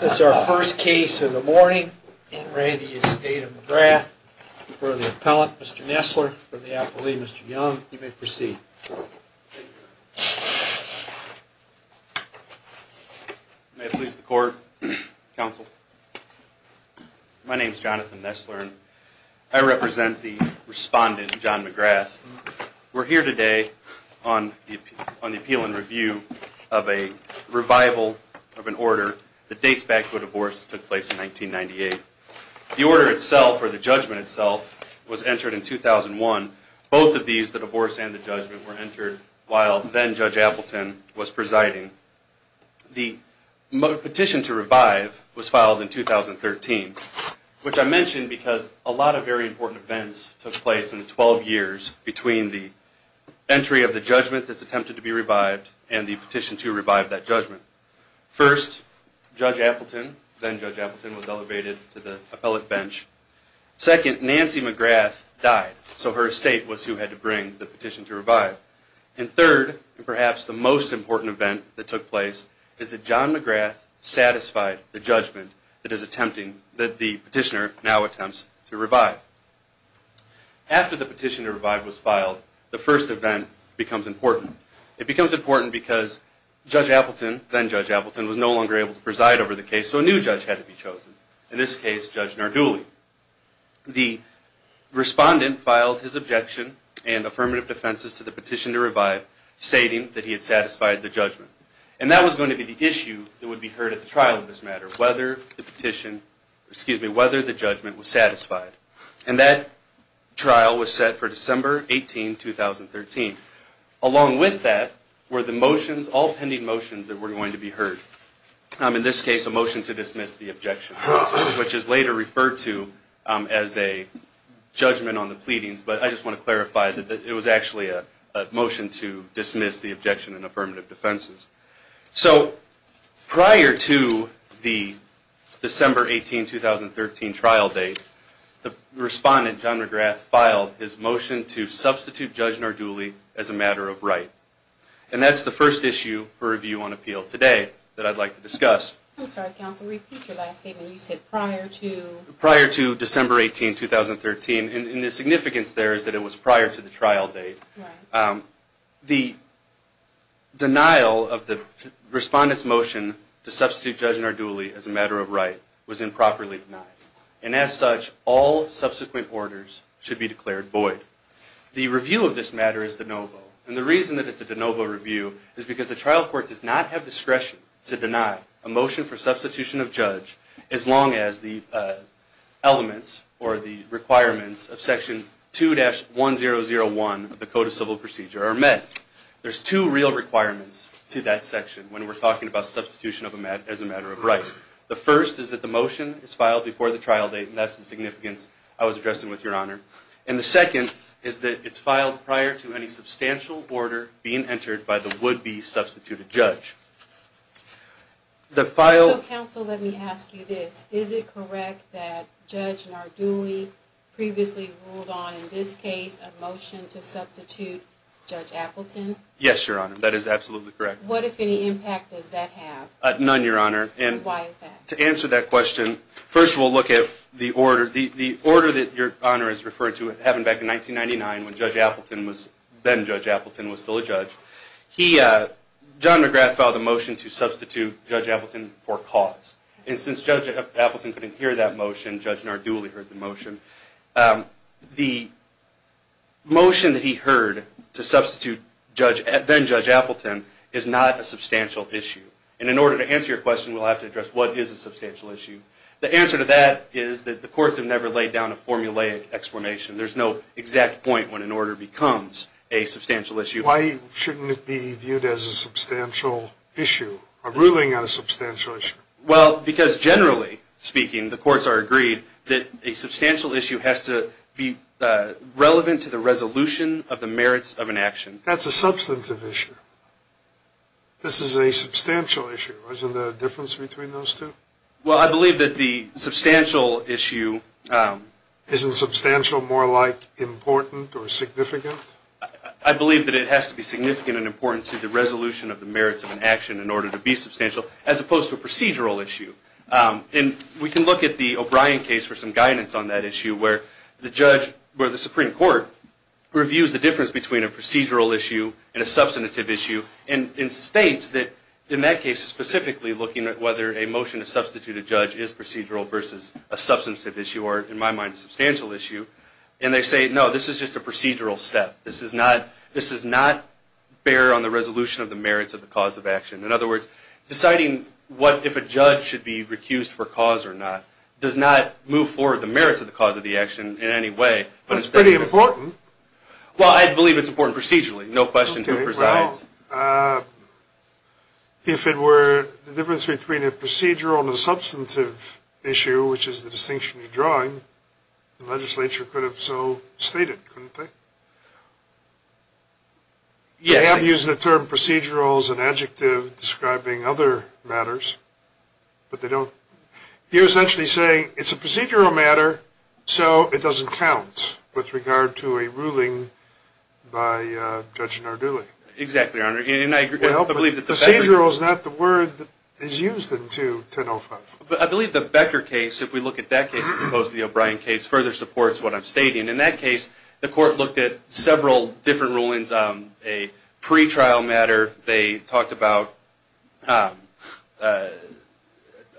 This is our first case in the morning in re the estate of McGrath For the appellant, Mr. Nessler, for the appellee, Mr. Young, you may proceed May I please the court? Counsel My name is Jonathan Nessler and I represent the respondent John McGrath We're here today on on the appeal and review of a Revival of an order that dates back to a divorce that took place in 1998 The order itself or the judgment itself was entered in 2001 Both of these the divorce and the judgment were entered while then judge Appleton was presiding the petition to revive was filed in 2013 which I mentioned because a lot of very important events took place in 12 years between the First judge Appleton then judge Appleton was elevated to the appellate bench Second Nancy McGrath died So her estate was who had to bring the petition to revive and third and perhaps the most important event that took place Is that John McGrath? Satisfied the judgment that is attempting that the petitioner now attempts to revive After the petition to revive was filed the first event becomes important It becomes important because Judge Appleton then judge Appleton was no longer able to preside over the case So a new judge had to be chosen in this case judge nor duly the Respondent filed his objection and affirmative defenses to the petition to revive Stating that he had satisfied the judgment and that was going to be the issue that would be heard at the trial of this matter whether the petition excuse me, whether the judgment was satisfied and that Trial was set for December 18 2013 along with that were the motions all pending motions that were going to be heard in this case a motion to dismiss the objection, which is later referred to as a Judgment on the pleadings, but I just want to clarify that it was actually a motion to dismiss the objection and affirmative defenses so prior to the December 18 2013 trial date the Respondent John McGrath filed his motion to substitute judge nor duly as a matter of right And that's the first issue for review on appeal today that I'd like to discuss Prior to December 18 2013 and the significance there is that it was prior to the trial date the denial of the Respondents motion to substitute judge nor duly as a matter of right was improperly denied and as such all Subsequent orders should be declared void The review of this matter is de novo and the reason that it's a de novo review is because the trial court does not have discretion to deny a motion for substitution of judge as long as the elements or the Requirements of section 2 dash 1 0 0 1 of the code of civil procedure are met There's two real requirements to that section when we're talking about substitution of a mat as a matter of right The first is that the motion is filed before the trial date and that's the significance I was addressing with your honor and the second is that it's filed prior to any Substantial order being entered by the would-be substituted judge The file counsel let me ask you this is it correct that judge nor duly Previously ruled on in this case a motion to substitute Judge Appleton. Yes, your honor. That is absolutely correct What if any impact does that have none your honor and why is that to answer that question? First we'll look at the order the order that your honor is referred to it having back in 1999 when judge Appleton was then judge Appleton was still a judge he John McGrath filed a motion to substitute judge Appleton for cause and since judge Appleton couldn't hear that motion judge nor duly heard the motion the Motion that he heard to substitute judge at then judge Appleton is not a substantial issue and in order to answer your question We'll have to address. What is a substantial issue the answer to that is that the courts have never laid down a formulaic explanation There's no exact point when an order becomes a substantial issue Why shouldn't it be viewed as a substantial issue a ruling on a substantial issue? Because generally speaking the courts are agreed that a substantial issue has to be Relevant to the resolution of the merits of an action. That's a substantive issue This is a substantial issue isn't the difference between those two well. I believe that the substantial issue Isn't substantial more like important or significant? I believe that it has to be significant and important to the resolution of the merits of an action in order to be substantial as opposed Procedural issue and we can look at the O'Brien case for some guidance on that issue where the judge where the Supreme Court? Reviews the difference between a procedural issue and a substantive issue and in states that in that case specifically looking at whether a motion to substitute a judge is procedural versus a Substantive issue or in my mind a substantial issue, and they say no this is just a procedural step This is not this is not Bear on the resolution of the merits of the cause of action in other words Deciding what if a judge should be recused for cause or not Does not move forward the merits of the cause of the action in any way, but it's pretty important Well, I believe it's important procedurally no question who presides If it were the difference between a procedural and substantive issue, which is the distinction you're drawing The legislature could have so stated Yeah, I'm using the term procedurals and adjective describing other matters But they don't you essentially say it's a procedural matter, so it doesn't count with regard to a ruling by Judge Narduli exactly and I believe that the procedural is not the word that is used in 2105 But I believe the Becker case if we look at that case as opposed to the O'Brien case further supports what I'm stating in that The court looked at several different rulings on a pre-trial matter they talked about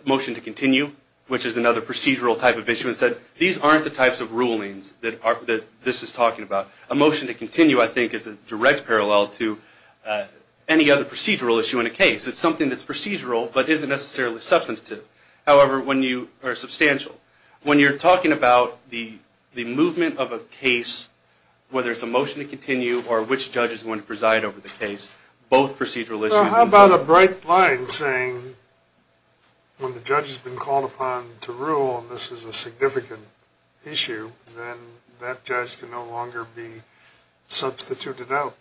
Motion to continue Which is another procedural type of issue and said these aren't the types of rulings that are that this is talking about a motion to? Continue I think is a direct parallel to Any other procedural issue in a case it's something that's procedural, but isn't necessarily substantive However when you are substantial when you're talking about the the movement of a case Whether it's a motion to continue or which judge is going to preside over the case both procedural issues about a bright line saying When the judge has been called upon to rule, and this is a significant issue That judge can no longer be substituted out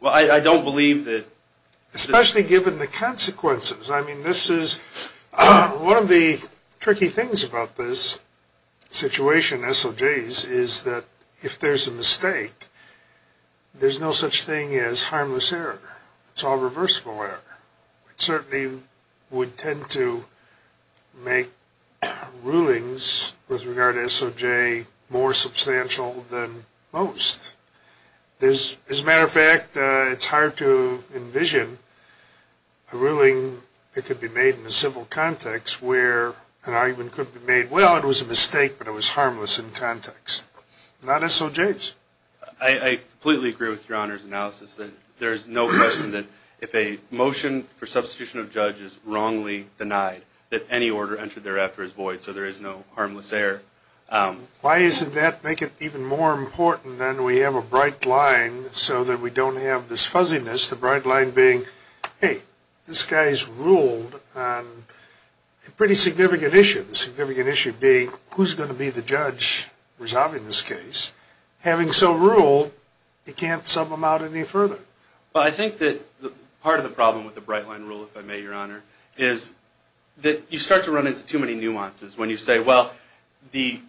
Well, I don't believe that Especially given the consequences, I mean this is One of the tricky things about this Situation SOJ's is that if there's a mistake? There's no such thing as harmless error. It's all reversible error. It certainly would tend to make rulings with regard to SOJ more substantial than most There's as a matter of fact. It's hard to envision a Ruling it could be made in the civil context where an argument could be made well It was a mistake, but it was harmless in context not SOJ's I Completely agree with your honors analysis that there's no question that if a motion for substitution of judges wrongly Denied that any order entered thereafter is void so there is no harmless error Why isn't that make it even more important than we have a bright line So that we don't have this fuzziness the bright line being hey this guy's ruled Pretty significant issue the significant issue being who's going to be the judge resolving this case Having so ruled it can't sub them out any further but I think that the part of the problem with the bright line rule if I may your honor is That you start to run into too many nuances when you say well the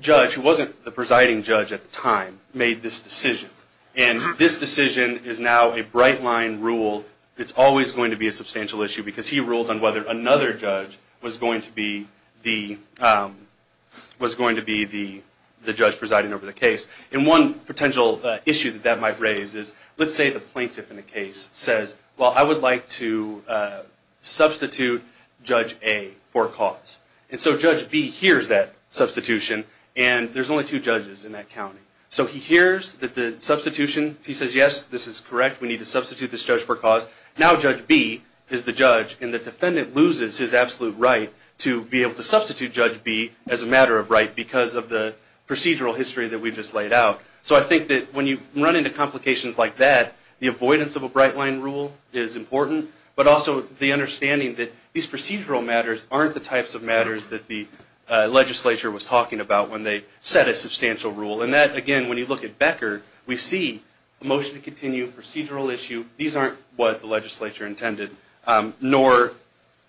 Judge who wasn't the presiding judge at the time made this decision and this decision is now a bright line rule it's always going to be a substantial issue because he ruled on whether another judge was going to be the Was going to be the the judge presiding over the case in one potential issue that that might raise is let's say the plaintiff in the case says well, I would like to Substitute judge a for cause and so judge B Here's that substitution, and there's only two judges in that county so he hears that the substitution He says yes, this is correct We need to substitute this judge for cause now judge B is the judge and the defendant loses his absolute right to be able to Substitute judge B as a matter of right because of the procedural history that we just laid out So I think that when you run into complications like that the avoidance of a bright line rule is important but also the understanding that these procedural matters aren't the types of matters that the Legislature was talking about when they set a substantial rule and that again when you look at Becker We see a motion to continue procedural issue. These aren't what the legislature intended Nor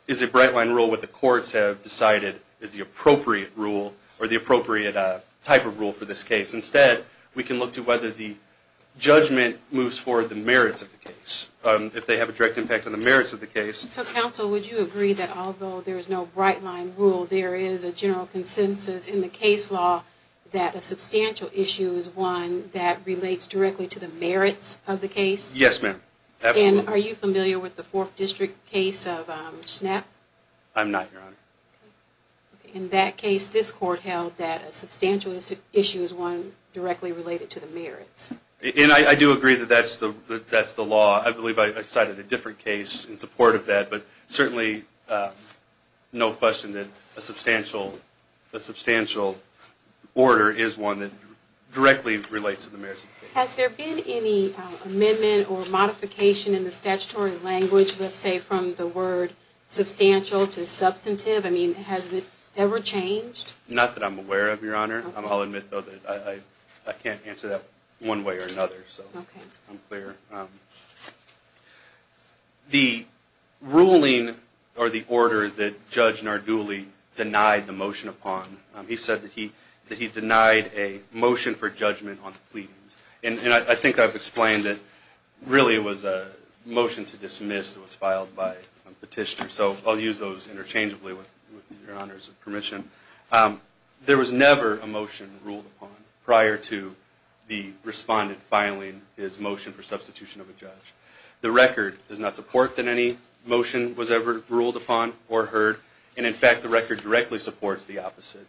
is a bright line rule what the courts have decided is the appropriate rule or the appropriate type of rule for this case instead we can look to whether the Judgment moves forward the merits of the case if they have a direct impact on the merits of the case so counsel Would you agree that although there is no bright line rule? There is a general consensus in the case law that a substantial issue is one that relates directly to the merits of the case Yes, ma'am, and are you familiar with the fourth district case of snap? I'm not In that case this court held that a substantial issue is one directly related to the merits And I do agree that that's the that's the law. I believe I cited a different case in support of that, but certainly no question that a substantial a substantial Order is one that directly relates to the merits has there been any? Amendment or modification in the statutory language. Let's say from the word Substantial to substantive. I mean has it ever changed not that I'm aware of your honor. I'll admit though that I Can't answer that one way or another so okay, I'm clear The Ruling or the order that judge Narduli denied the motion upon He said that he that he denied a motion for judgment on the pleadings, and I think I've explained it Really was a motion to dismiss that was filed by a petitioner, so I'll use those interchangeably with your honors of permission There was never a motion ruled upon prior to the Respondent filing his motion for substitution of a judge the record does not support that any Motion was ever ruled upon or heard and in fact the record directly supports the opposite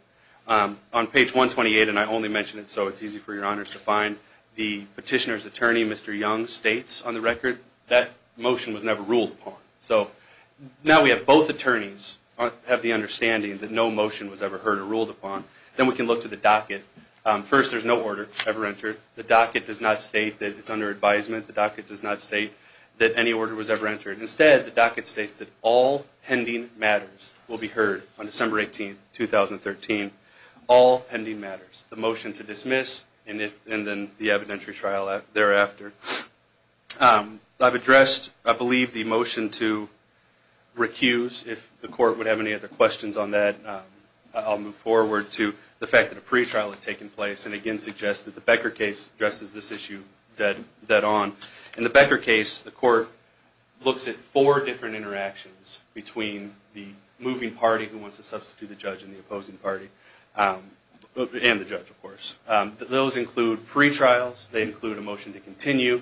On page 128 and I only mentioned it so it's easy for your honors to find the petitioner's attorney mr. Young states on the record that motion was never ruled upon so Now we have both attorneys Have the understanding that no motion was ever heard or ruled upon then we can look to the docket First there's no order ever entered the docket does not state that it's under advisement the docket does not state That any order was ever entered instead the docket states that all pending matters will be heard on December 18 2013 all pending matters the motion to dismiss and if and then the evidentiary trial thereafter I've addressed. I believe the motion to recuse if the court would have any other questions on that I'll move forward to the fact that a pretrial had taken place and again suggest that the Becker case addresses this issue That that on in the Becker case the court Looks at four different interactions between the moving party who wants to substitute the judge in the opposing party And the judge of course those include pre-trials they include a motion to continue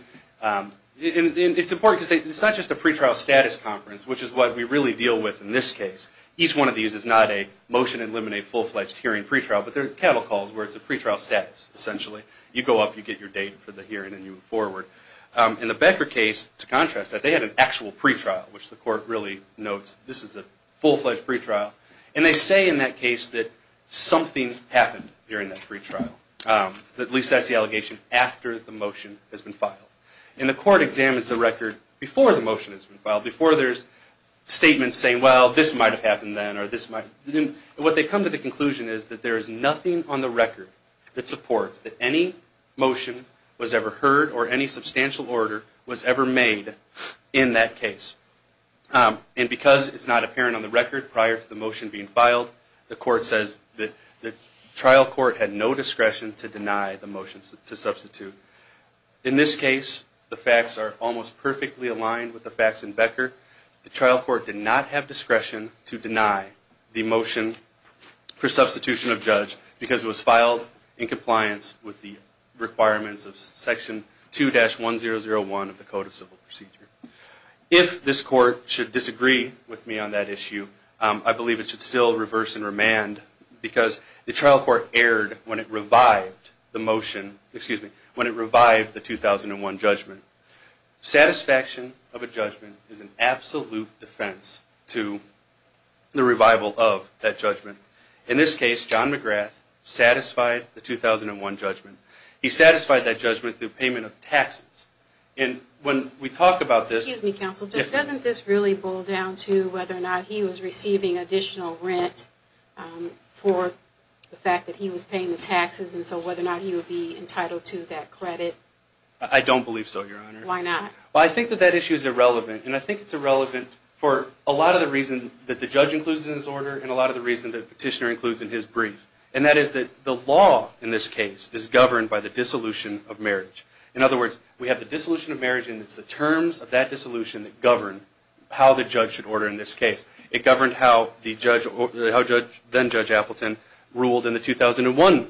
It's important to say it's not just a pre-trial status conference Which is what we really deal with in this case each one of these is not a motion eliminate full-fledged hearing pre-trial But they're cattle calls where it's a pre-trial status Essentially you go up you get your date for the hearing and you forward In the Becker case to contrast that they had an actual pre-trial which the court really notes This is a full-fledged pre-trial, and they say in that case that Something happened during that pre-trial At least that's the allegation after the motion has been filed in the court examines the record before the motion has been filed before there's Statements saying well this might have happened then or this might What they come to the conclusion is that there is nothing on the record that supports that any Motion was ever heard or any substantial order was ever made in that case And because it's not apparent on the record prior to the motion being filed the court says that the trial court had no discretion to deny the motions to substitute In this case the facts are almost perfectly aligned with the facts in Becker the trial court did not have discretion to deny the motion for substitution of judge because it was filed in compliance with the requirements of section 2 dash 1 0 0 1 of the code of civil procedure if This court should disagree with me on that issue I believe it should still reverse and remand because the trial court erred when it revived the motion Excuse me when it revived the 2001 judgment Satisfaction of a judgment is an absolute defense to The revival of that judgment in this case John McGrath Satisfied the 2001 judgment he satisfied that judgment through payment of taxes and when we talk about this Doesn't this really boil down to whether or not he was receiving additional rent For the fact that he was paying the taxes and so whether or not he would be entitled to that credit I don't believe so your honor. Why not? well I think that that issue is irrelevant and I think it's irrelevant for a lot of the reason that the judge includes in his order And a lot of the reason that petitioner includes in his brief And that is that the law in this case is governed by the dissolution of marriage in other words We have the dissolution of marriage And it's the terms of that dissolution that govern how the judge should order in this case it governed How the judge or how judge then judge Appleton ruled in the 2001?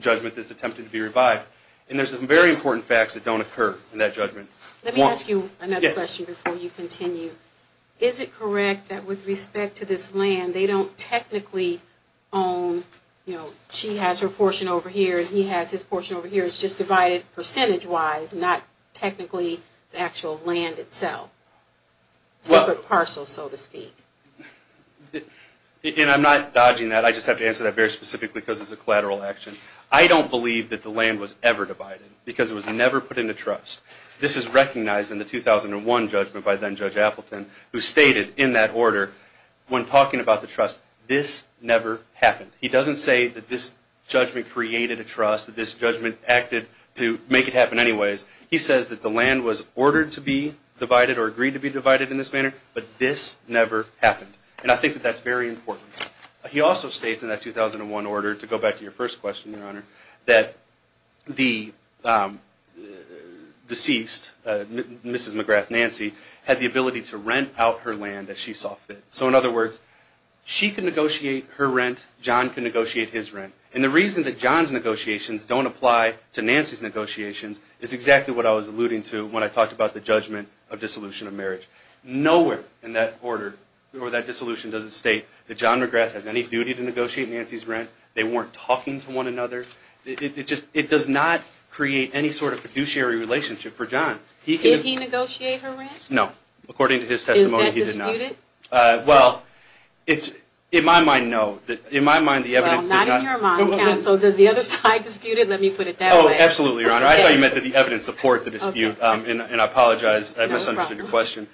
Judgment this attempted to be revived, and there's some very important facts that don't occur in that judgment Let me ask you another question before you continue. Is it correct that with respect to this land? They don't technically own You know she has her portion over here. He has his portion over here It's just divided percentage wise not technically the actual land itself separate parcel so to speak And I'm not dodging that I just have to answer that very specifically because it's a collateral action I don't believe that the land was ever divided because it was never put into trust This is recognized in the 2001 judgment by then judge Appleton who stated in that order when talking about the trust this Never happened. He doesn't say that this judgment created a trust that this judgment acted to make it happen Anyways, he says that the land was ordered to be divided or agreed to be divided in this manner But this never happened, and I think that that's very important he also states in that 2001 order to go back to your first question your honor that the Deceased Mrs.. McGrath Nancy had the ability to rent out her land that she saw fit so in other words She can negotiate her rent John can negotiate his rent and the reason that John's negotiations don't apply to Nancy's Negotiations is exactly what I was alluding to when I talked about the judgment of dissolution of marriage Nowhere in that order or that dissolution doesn't state that John McGrath has any duty to negotiate Nancy's rent They weren't talking to one another It just it does not create any sort of fiduciary relationship for John he did he negotiate her rent no according to his testimony Well, it's in my mind. No that in my mind the evidence So does the other side disputed let me put it down absolutely your honor I thought you meant that the evidence support the dispute and I apologize I misunderstood your question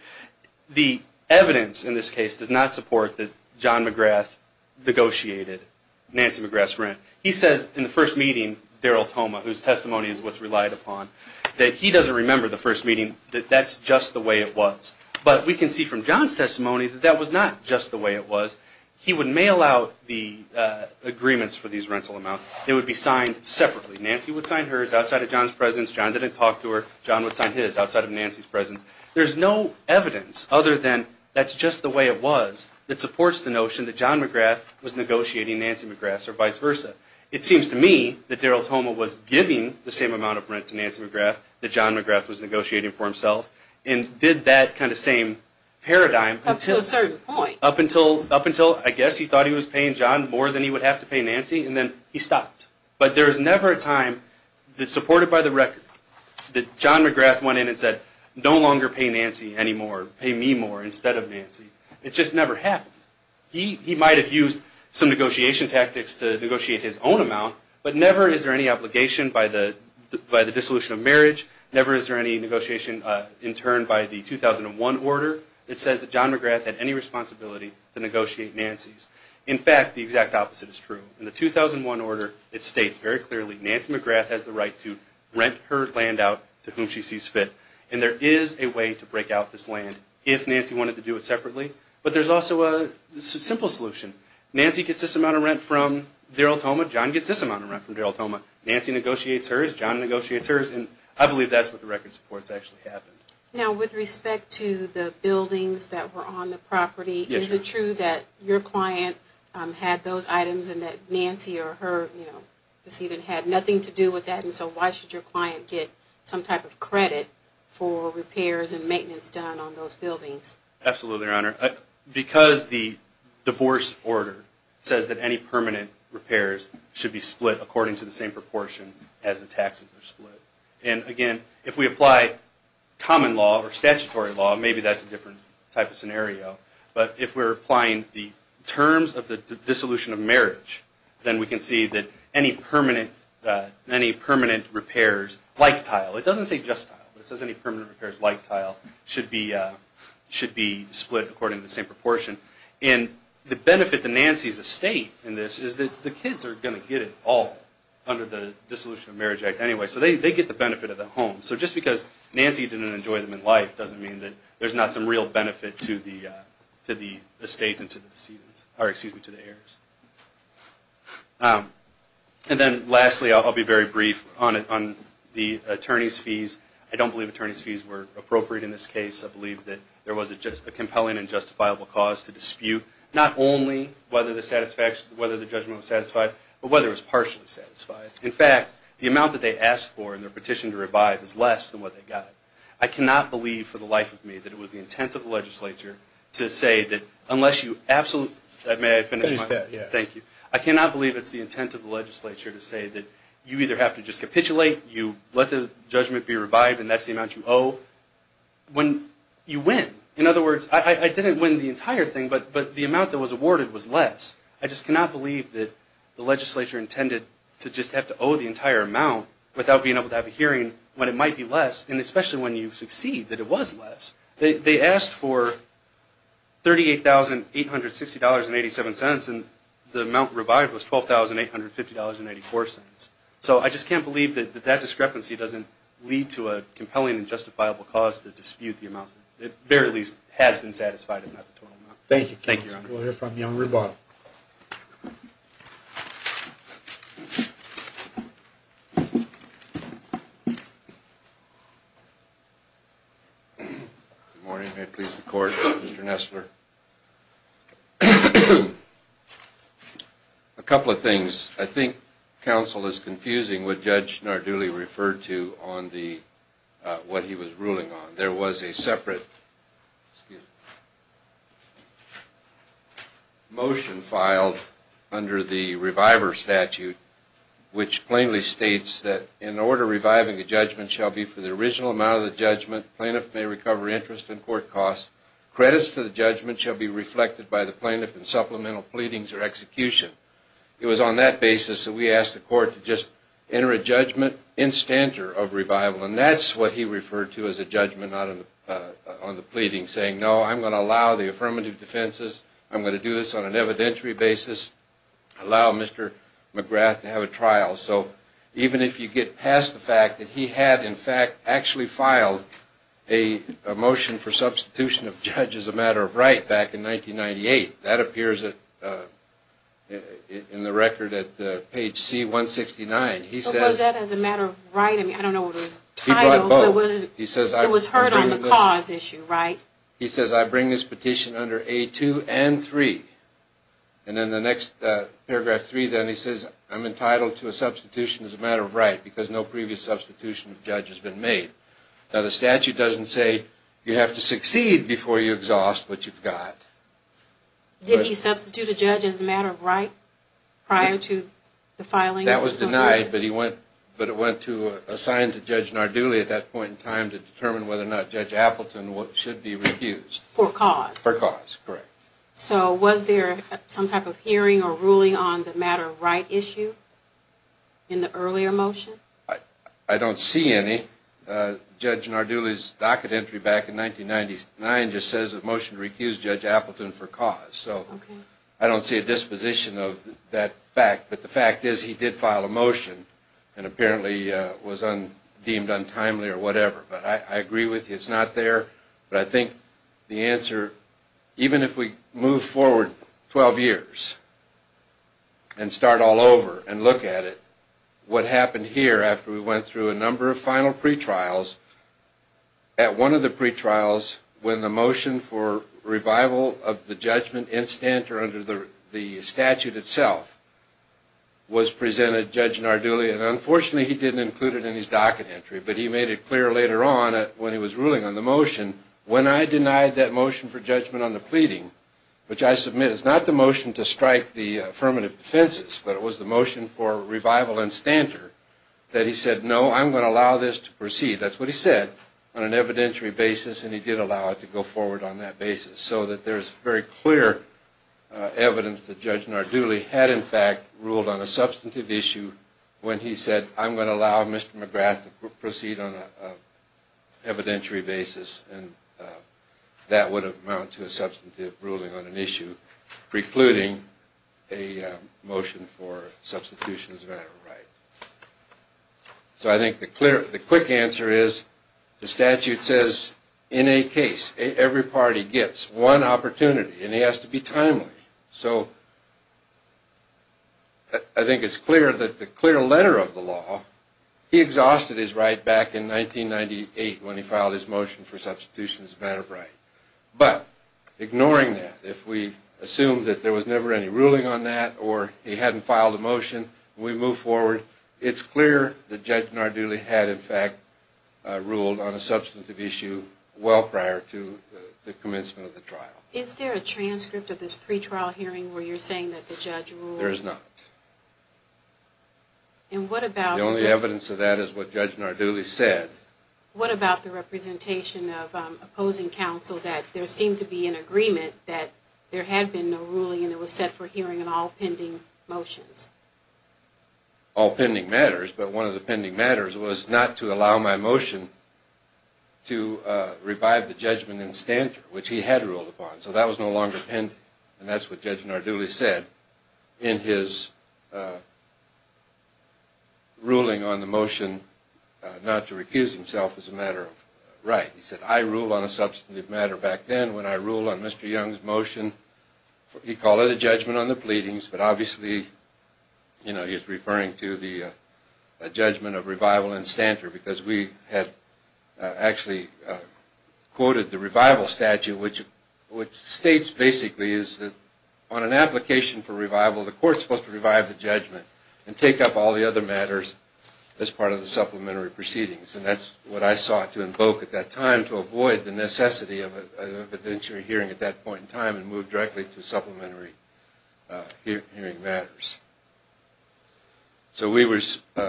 The evidence in this case does not support that John McGrath Negotiated Nancy McGrath's rent he says in the first meeting Daryl Toma whose testimony is what's relied upon That he doesn't remember the first meeting that that's just the way it was But we can see from John's testimony that that was not just the way it was he would mail out the Agreements for these rental amounts it would be signed separately Nancy would sign hers outside of John's presence John didn't talk to her John would sign His outside of Nancy's presence There's no evidence other than that's just the way it was that supports the notion that John McGrath was Negotiating Nancy McGrath's or vice versa it seems to me that Daryl Toma was giving the same amount of rent to Nancy McGrath that John McGrath was negotiating for himself and did that kind of same Paradigm up to a certain point up until up until I guess he thought he was paying John more than he would have to pay Nancy and then he stopped, but there's never a time that supported by the record That John McGrath went in and said no longer pay Nancy anymore pay me more instead of Nancy It just never happened he he might have used some negotiation tactics to negotiate his own amount But never is there any obligation by the by the dissolution of marriage never is there any negotiation in turn by the? 2001 order it says that John McGrath had any responsibility to negotiate Nancy's in fact the exact opposite is true in the 2001 order it states very clearly Nancy McGrath has the right to Rent her land out to whom she sees fit and there is a way to break out this land if Nancy wanted to do it Separately, but there's also a Simple solution Nancy gets this amount of rent from Daryl Toma John gets this amount of rent from Daryl Toma Nancy negotiates Hers John negotiators, and I believe that's what the record supports actually happened now with respect to the buildings that were on the property Is it true that your client? Had those items and that Nancy or her you know this even had nothing to do with that And so why should your client get some type of credit for repairs and maintenance done on those buildings absolutely honor? Because the Divorce order says that any permanent repairs should be split according to the same proportion as the taxes are split and again if we apply Common law or statutory law, maybe that's a different type of scenario But if we're applying the terms of the dissolution of marriage, then we can see that any permanent Any permanent repairs like tile it doesn't say just it says any permanent repairs like tile should be Split according to the same proportion and the benefit to Nancy's estate And this is that the kids are going to get it all under the dissolution of marriage act anyway So they get the benefit of the home so just because Nancy didn't enjoy them in life doesn't mean that there's not some real benefit To the to the estate into the seasons or excuse me to the heirs And then lastly I'll be very brief on it on the attorneys fees I don't believe attorneys fees were appropriate in this case I believe that there was a just a compelling and justifiable cause to dispute not only whether the satisfaction whether the judgment was satisfied But whether it's partially satisfied in fact the amount that they asked for in their petition to revive is less than what they got I cannot believe for the life of me that it was the intent of the legislature to say that unless you absolute that may Thank you I cannot believe it's the intent of the legislature to say that you either have to just capitulate you let the Judgment be revived, and that's the amount you owe When you win in other words, I didn't win the entire thing, but but the amount that was awarded was less I just cannot believe that the legislature intended to just have to owe the entire amount Without being able to have a hearing when it might be less and especially when you succeed that it was less they asked for 38,000 $860 and 87 cents and the amount revived was twelve thousand eight hundred fifty dollars and eighty four cents So I just can't believe that that discrepancy doesn't lead to a compelling and justifiable cause to dispute the amount It very least has been satisfied and not the total amount. Thank you. Thank you. We'll hear from you on rebuttal Court mr. Nestler a Counsel is confusing what judge nor duly referred to on the what he was ruling on there was a separate Motion filed under the reviver statute Which plainly states that in order reviving a judgment shall be for the original amount of the judgment plaintiff may recover interest in court costs Credits to the judgment shall be reflected by the plaintiff and supplemental pleadings or execution It was on that basis that we asked the court to just enter a judgment in stanter of revival And that's what he referred to as a judgment on On the pleading saying no, I'm going to allow the affirmative defenses. I'm going to do this on an evidentiary basis Allow mr. McGrath to have a trial. So even if you get past the fact that he had in fact actually filed a motion for substitution of judge as a matter of right back in 1998 that appears that In the record at the page c169 he says that as a matter of writing, I don't know He says I was hurt on the cause issue, right? He says I bring this petition under a two and three and then the next Paragraph three then he says I'm entitled to a substitution as a matter of right because no previous substitution judge has been made Now the statute doesn't say you have to succeed before you exhaust what you've got Did he substitute a judge as a matter of right prior to the filing that was denied But he went but it went to a sign to judge Narduli at that point in time to determine whether or not judge Appleton What should be refused for cause for cause correct? So was there some type of hearing or ruling on the matter of right issue in? the earlier motion I Don't see any Judge Narduli's docket entry back in 1999 just says a motion to recuse judge Appleton for cause so I don't see a disposition of that fact But the fact is he did file a motion and apparently was on deemed untimely or whatever, but I agree with you It's not there, but I think the answer even if we move forward 12 years and Start all over and look at it What happened here after we went through a number of final pretrials at one of the pretrials when the motion for revival of the judgment in stanter under the statute itself Was presented judge Narduli and unfortunately he didn't include it in his docket entry But he made it clear later on when he was ruling on the motion when I denied that motion for judgment on the pleading Which I submit is not the motion to strike the affirmative defenses But it was the motion for revival and stancher that he said no, I'm going to allow this to proceed That's what he said on an evidentiary basis, and he did allow it to go forward on that basis so that there's very clear Evidence that judge Narduli had in fact ruled on a substantive issue when he said I'm going to allow mr. McGrath to proceed on evidentiary basis and That would amount to a substantive ruling on an issue precluding a motion for substitutions So I think the clear the quick answer is the statute says in a case every party gets one Opportunity and he has to be timely so I Think it's clear that the clear letter of the law He exhausted his right back in 1998 when he filed his motion for substitution as a matter of right, but Ignoring that if we assume that there was never any ruling on that or he hadn't filed a motion we move forward It's clear the judge Narduli had in fact ruled on a substantive issue Well prior to the commencement of the trial is there a transcript of this pretrial hearing where you're saying that the judge rule there's not And what about the only evidence of that is what judge Narduli said what about the representation of Opposing counsel that there seemed to be an agreement that there had been no ruling and it was set for hearing and all pending motions All pending matters, but one of the pending matters was not to allow my motion To revive the judgment in stancher which he had ruled upon so that was no longer pen And that's what judge Narduli said in his Ruling on the motion Not to recuse himself as a matter of right. He said I rule on a substantive matter back then when I rule on mr. Young's motion he called it a judgment on the pleadings, but obviously you know he's referring to the judgment of revival and stancher because we have actually Quoted the revival statute which which states basically is that on an application for revival the court supposed to revive the judgment And take up all the other matters as part of the supplementary proceedings And that's what I sought to invoke at that time to avoid the necessity of an evidentiary hearing at that point in time and move directly to supplementary hearing matters So we were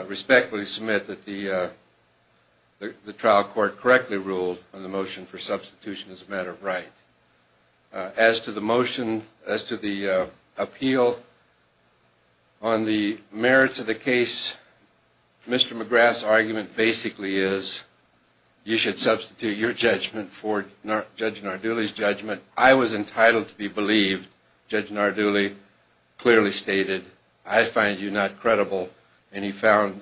respectfully submit that the Motion for substitution as a matter of right as to the motion as to the appeal on the merits of the case Mr.. McGrath's argument basically is You should substitute your judgment for not judge Narduli's judgment. I was entitled to be believed judge Narduli Clearly stated I find you not credible, and he found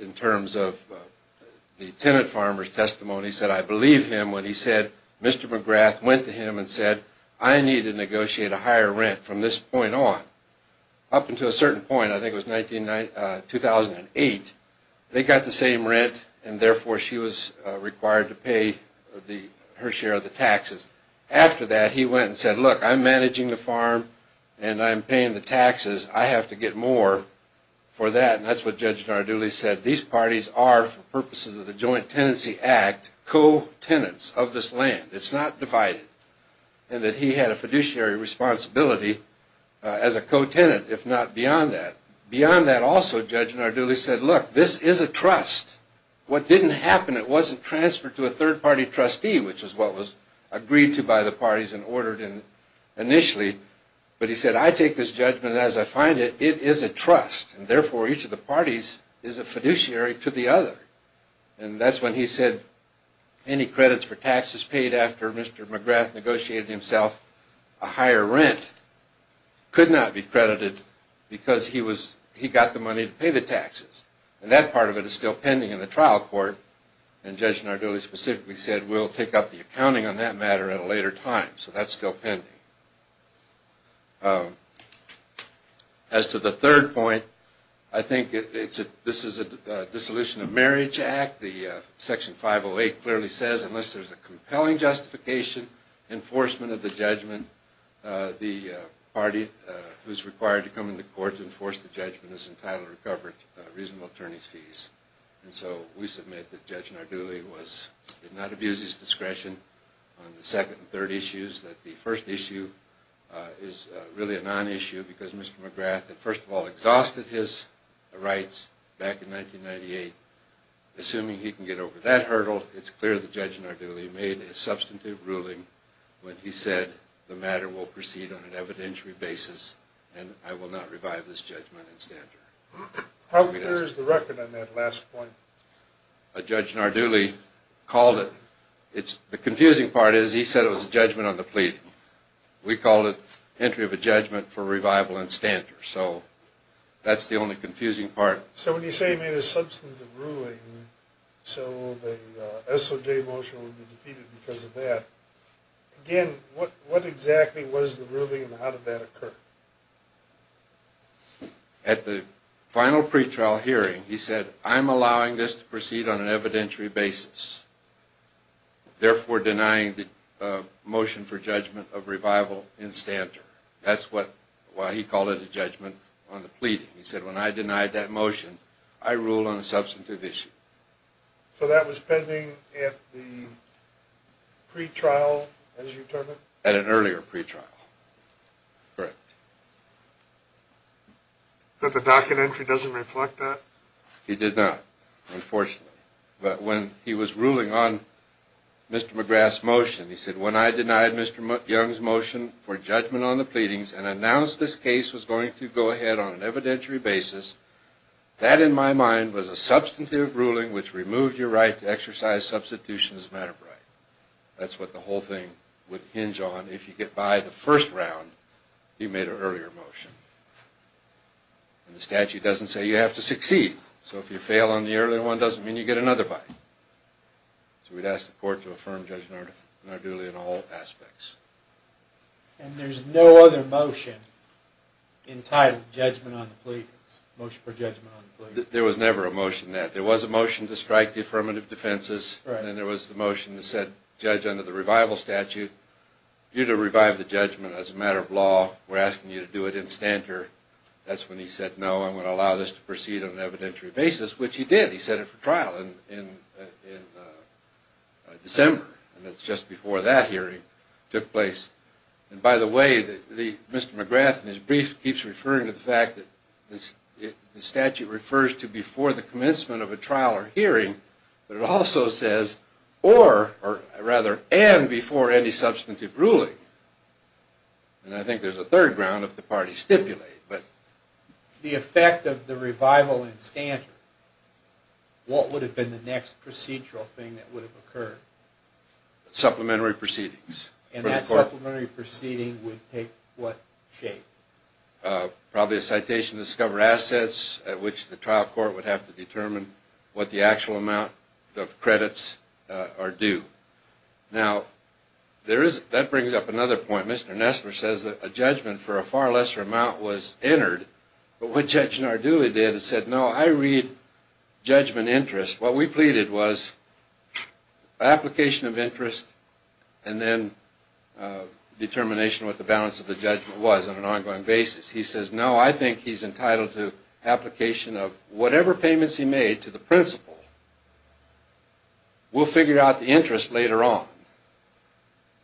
in terms of The tenant farmers testimony said I believe him when he said mr. McGrath went to him and said I need to negotiate a higher rent from this point on Up into a certain point. I think it was 19 2008 they got the same rent and therefore she was required to pay the her share of the taxes After that he went and said look I'm managing the farm, and I'm paying the taxes. I have to get more For that and that's what judge Narduli said these parties are for purposes of the joint tenancy act Co-tenants of this land. It's not divided and that he had a fiduciary responsibility As a co-tenant if not beyond that beyond that also judge Narduli said look this is a trust What didn't happen it wasn't transferred to a third-party trustee, which is what was agreed to by the parties and ordered in But he said I take this judgment as I find it It is a trust and therefore each of the parties is a fiduciary to the other and that's when he said Any credits for taxes paid after mr.. McGrath negotiated himself a higher rent Could not be credited because he was he got the money to pay the taxes and that part of it is still pending in the trial court and Judge Narduli specifically said we'll take up the accounting on that matter at a later time, so that's still pending as To the third point I think it's a this is a Dissolution of marriage act the section 508 clearly says unless there's a compelling justification enforcement of the judgment The party who's required to come into court to enforce the judgment is entitled to coverage reasonable attorneys fees And so we submit that judge Narduli was did not abuse his discretion On the second and third issues that the first issue Is really a non-issue because mr.. McGrath that first of all exhausted his rights back in 1998 Assuming he can get over that hurdle It's clear the judge Narduli made a substantive ruling when he said the matter will proceed on an evidentiary basis And I will not revive this judgment in standard How clear is the record on that last point a judge Narduli called it? It's the confusing part is he said it was a judgment on the plea We called it entry of a judgment for revival and standard, so that's the only confusing part So when you say he made a substantive ruling So the SOJ motion will be defeated because of that Again, what what exactly was the ruling and how did that occur? At the final pretrial hearing he said I'm allowing this to proceed on an evidentiary basis therefore denying the Motion for judgment of revival in standard. That's what why he called it a judgment on the pleading He said when I denied that motion I rule on a substantive issue so that was pending at the Pretrial as you turn it at an earlier pretrial correct But the docket entry doesn't reflect that he did not unfortunately, but when he was ruling on Mr.. McGrath's motion. He said when I denied mr. McYoung's motion for judgment on the pleadings and announced this case was going to go ahead on an evidentiary basis That in my mind was a substantive ruling which removed your right to exercise substitution as a matter of right That's what the whole thing would hinge on if you get by the first round you made an earlier motion And the statute doesn't say you have to succeed so if you fail on the early one doesn't mean you get another bite So we'd ask the court to affirm judgment in our duly in all aspects And there's no other motion In title judgment on the pleading motion for judgment There was never a motion that there was a motion to strike the affirmative defenses And there was the motion to said judge under the revival statute You to revive the judgment as a matter of law. We're asking you to do it in standard That's when he said no I'm going to allow this to proceed on an evidentiary basis, which he did he said it for trial in December and that's just before that hearing took place and by the way the mr. McGrath and his brief keeps referring to the fact that this Statute refers to before the commencement of a trial or hearing But it also says or or rather and before any substantive ruling and I think there's a third ground if the party stipulated, but The effect of the revival in standard What would have been the next procedural thing that would have occurred? Supplementary proceedings and that supplementary proceeding would take what shape? Probably a citation discover assets at which the trial court would have to determine what the actual amount of credits are due now There is that brings up another point mr. Nesler says that a judgment for a far lesser amount was entered, but what judge Narduli did is said no I read judgment interest what we pleaded was Application of interest and then Determination what the balance of the judgment was on an ongoing basis. He says no I think he's entitled to application of whatever payments he made to the principal We'll figure out the interest later on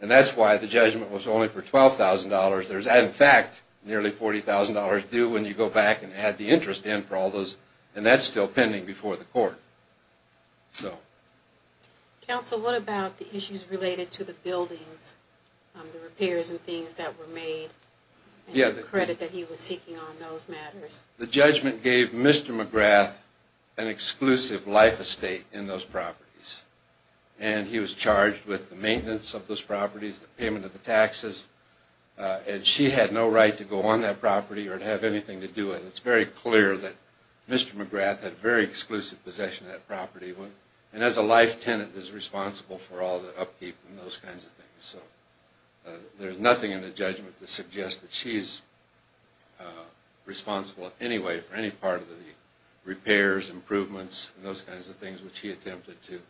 and that's why the judgment was only for $12,000. There's that in fact Nearly $40,000 do when you go back and add the interest in for all those and that's still pending before the court so Counsel what about the issues related to the buildings? Repairs and things that were made Yeah, the credit that he was seeking on those matters the judgment gave mr. McGrath an Exclusive life estate in those properties, and he was charged with the maintenance of those properties the payment of the taxes And she had no right to go on that property or to have anything to do it. It's very clear that Mr.. McGrath had very exclusive possession of that property one and as a life tenant is responsible for all the upkeep and those kinds of things there's nothing in the judgment to suggest that she's Responsible anyway for any part of the repairs improvements and those kinds of things which he attempted to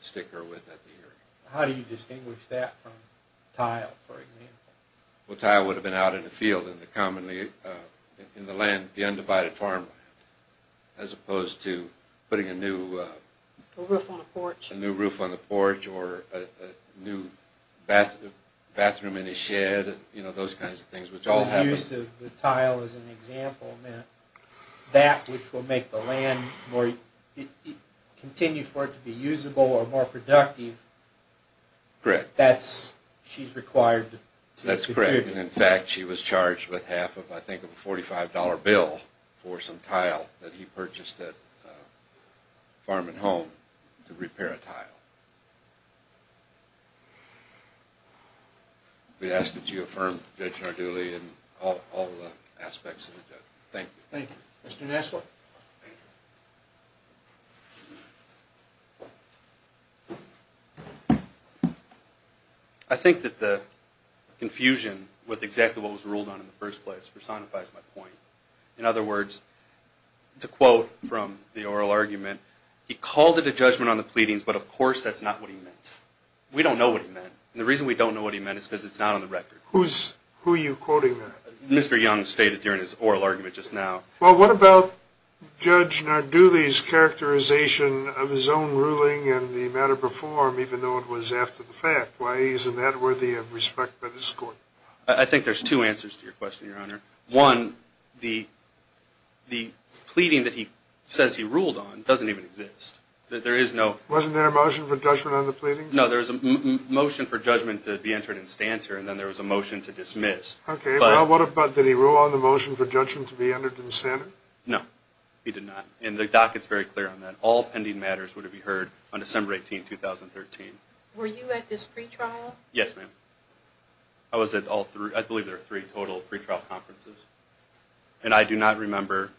Stick her with that the year. How do you distinguish that from tile for example? Well tile would have been out in the field in the commonly in the land the undivided farm as opposed to putting a new roof on the porch a new roof on the porch or a new Bathroom in his shed, you know those kinds of things which all have use of the tile as an example That which will make the land more Continue for it to be usable or more productive Correct, that's she's required. That's correct in fact She was charged with half of I think of a $45 bill for some tile that he purchased that Farming home to repair a tile We ask that you affirm that you are duly and all aspects of it. Thank you. Thank you, mr.. Nestle I Think that the Confusion with exactly what was ruled on in the first place personifies my point in other words It's a quote from the oral argument. He called it a judgment on the pleadings, but of course that's not what he meant We don't know what he meant and the reason we don't know what he meant is because it's not on the record who's who you Quoting that mr. Young stated during his oral argument just now well, what about? judge now do these Characterization of his own ruling and the matter before him even though it was after the fact why he isn't that worthy of respect by This court. I think there's two answers to your question your honor one the The pleading that he says he ruled on doesn't even exist That there is no wasn't there a motion for judgment on the pleading no There's a motion for judgment to be entered in stanter, and then there was a motion to dismiss, okay? Well, what about did he rule on the motion for judgment to be entered in standard? No, he did not in the dock. It's very clear on that all pending matters would have been heard on December 18 2013 Yes, ma'am I Was it all through I believe there are three total pretrial conferences, and I do not remember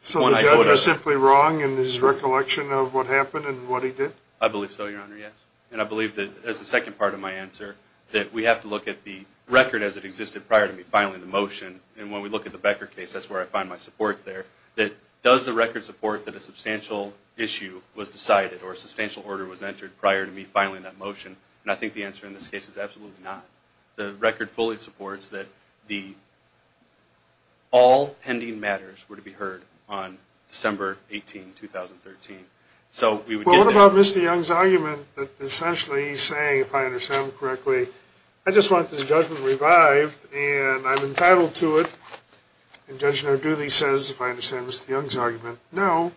So when I was simply wrong in this recollection of what happened and what he did I believe so your honor Yes and I believe that as the second part of my answer that we have to look at the Record as it existed prior to me finally the motion and when we look at the Becker case That's where I find my support there that does the record support that a substantial Issue was decided or a substantial order was entered prior to me finally in that motion and I think the answer in this case is absolutely not the record fully supports that the All pending matters were to be heard on December 18 2013 so we would what about mr. Young's argument that essentially saying if I understand correctly I just want this judgment revived, and I'm entitled to it And judge no do these says if I understand mr.. Young's argument no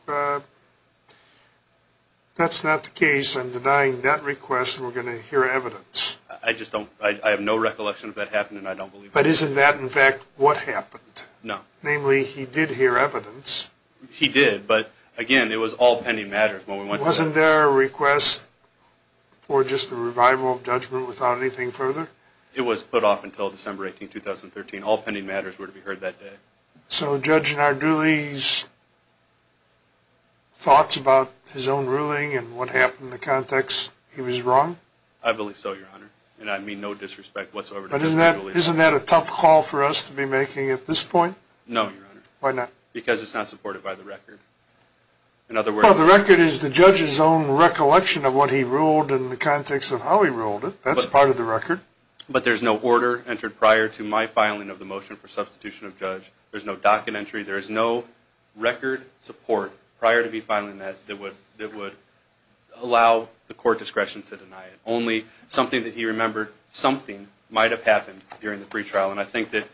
That's not the case I'm denying that request and we're gonna hear evidence I just don't I have no recollection of that happened, and I don't believe but isn't that in fact what happened No, namely he did hear evidence He did but again. It was all pending matters when we wasn't there a request For just a revival of judgment without anything further it was put off until December 18 2013 all pending matters were to be heard that day so judging our do these Thoughts about his own ruling and what happened the context he was wrong I believe so your honor, and I mean no disrespect whatsoever But isn't that a tough call for us to be making at this point no why not because it's not supported by the record In other words the record is the judge's own recollection of what he ruled in the context of how he ruled it That's part of the record, but there's no order entered prior to my filing of the motion for substitution of judge There's no docket entry. There is no Record support prior to be filing that that would that would Allow the court discretion to deny it only something that he remembered something might have happened during the pretrial and I think that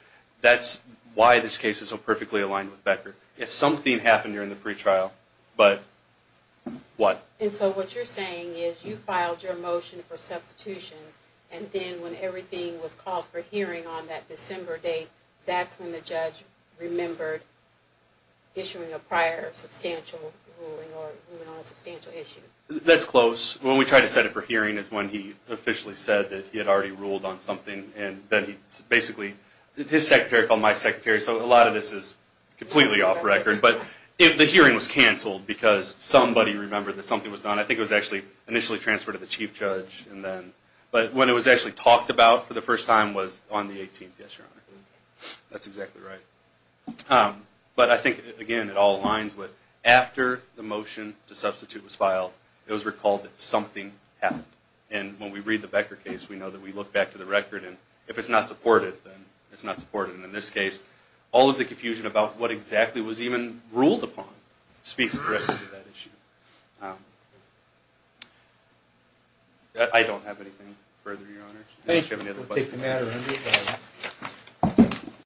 that's why this case is so perfectly aligned with Becker if something happened during the pretrial, but What and so what you're saying is you filed your motion for substitution? And then when everything was called for hearing on that December date. That's when the judge remembered issuing a prior substantial That's close when we try to set it for hearing is when he Officially said that he had already ruled on something and then he basically his secretary called my secretary So a lot of this is completely off record But if the hearing was canceled because somebody remembered that something was done I think it was actually initially transferred to the chief judge and then But when it was actually talked about for the first time was on the 18th. Yes, your honor That's exactly right But I think again it all lines with after the motion to substitute was filed It was recalled that something happened and when we read the Becker case We know that we look back to the record and if it's not supported It's not supported in this case all of the confusion about what exactly was even ruled upon speaks directly to that issue You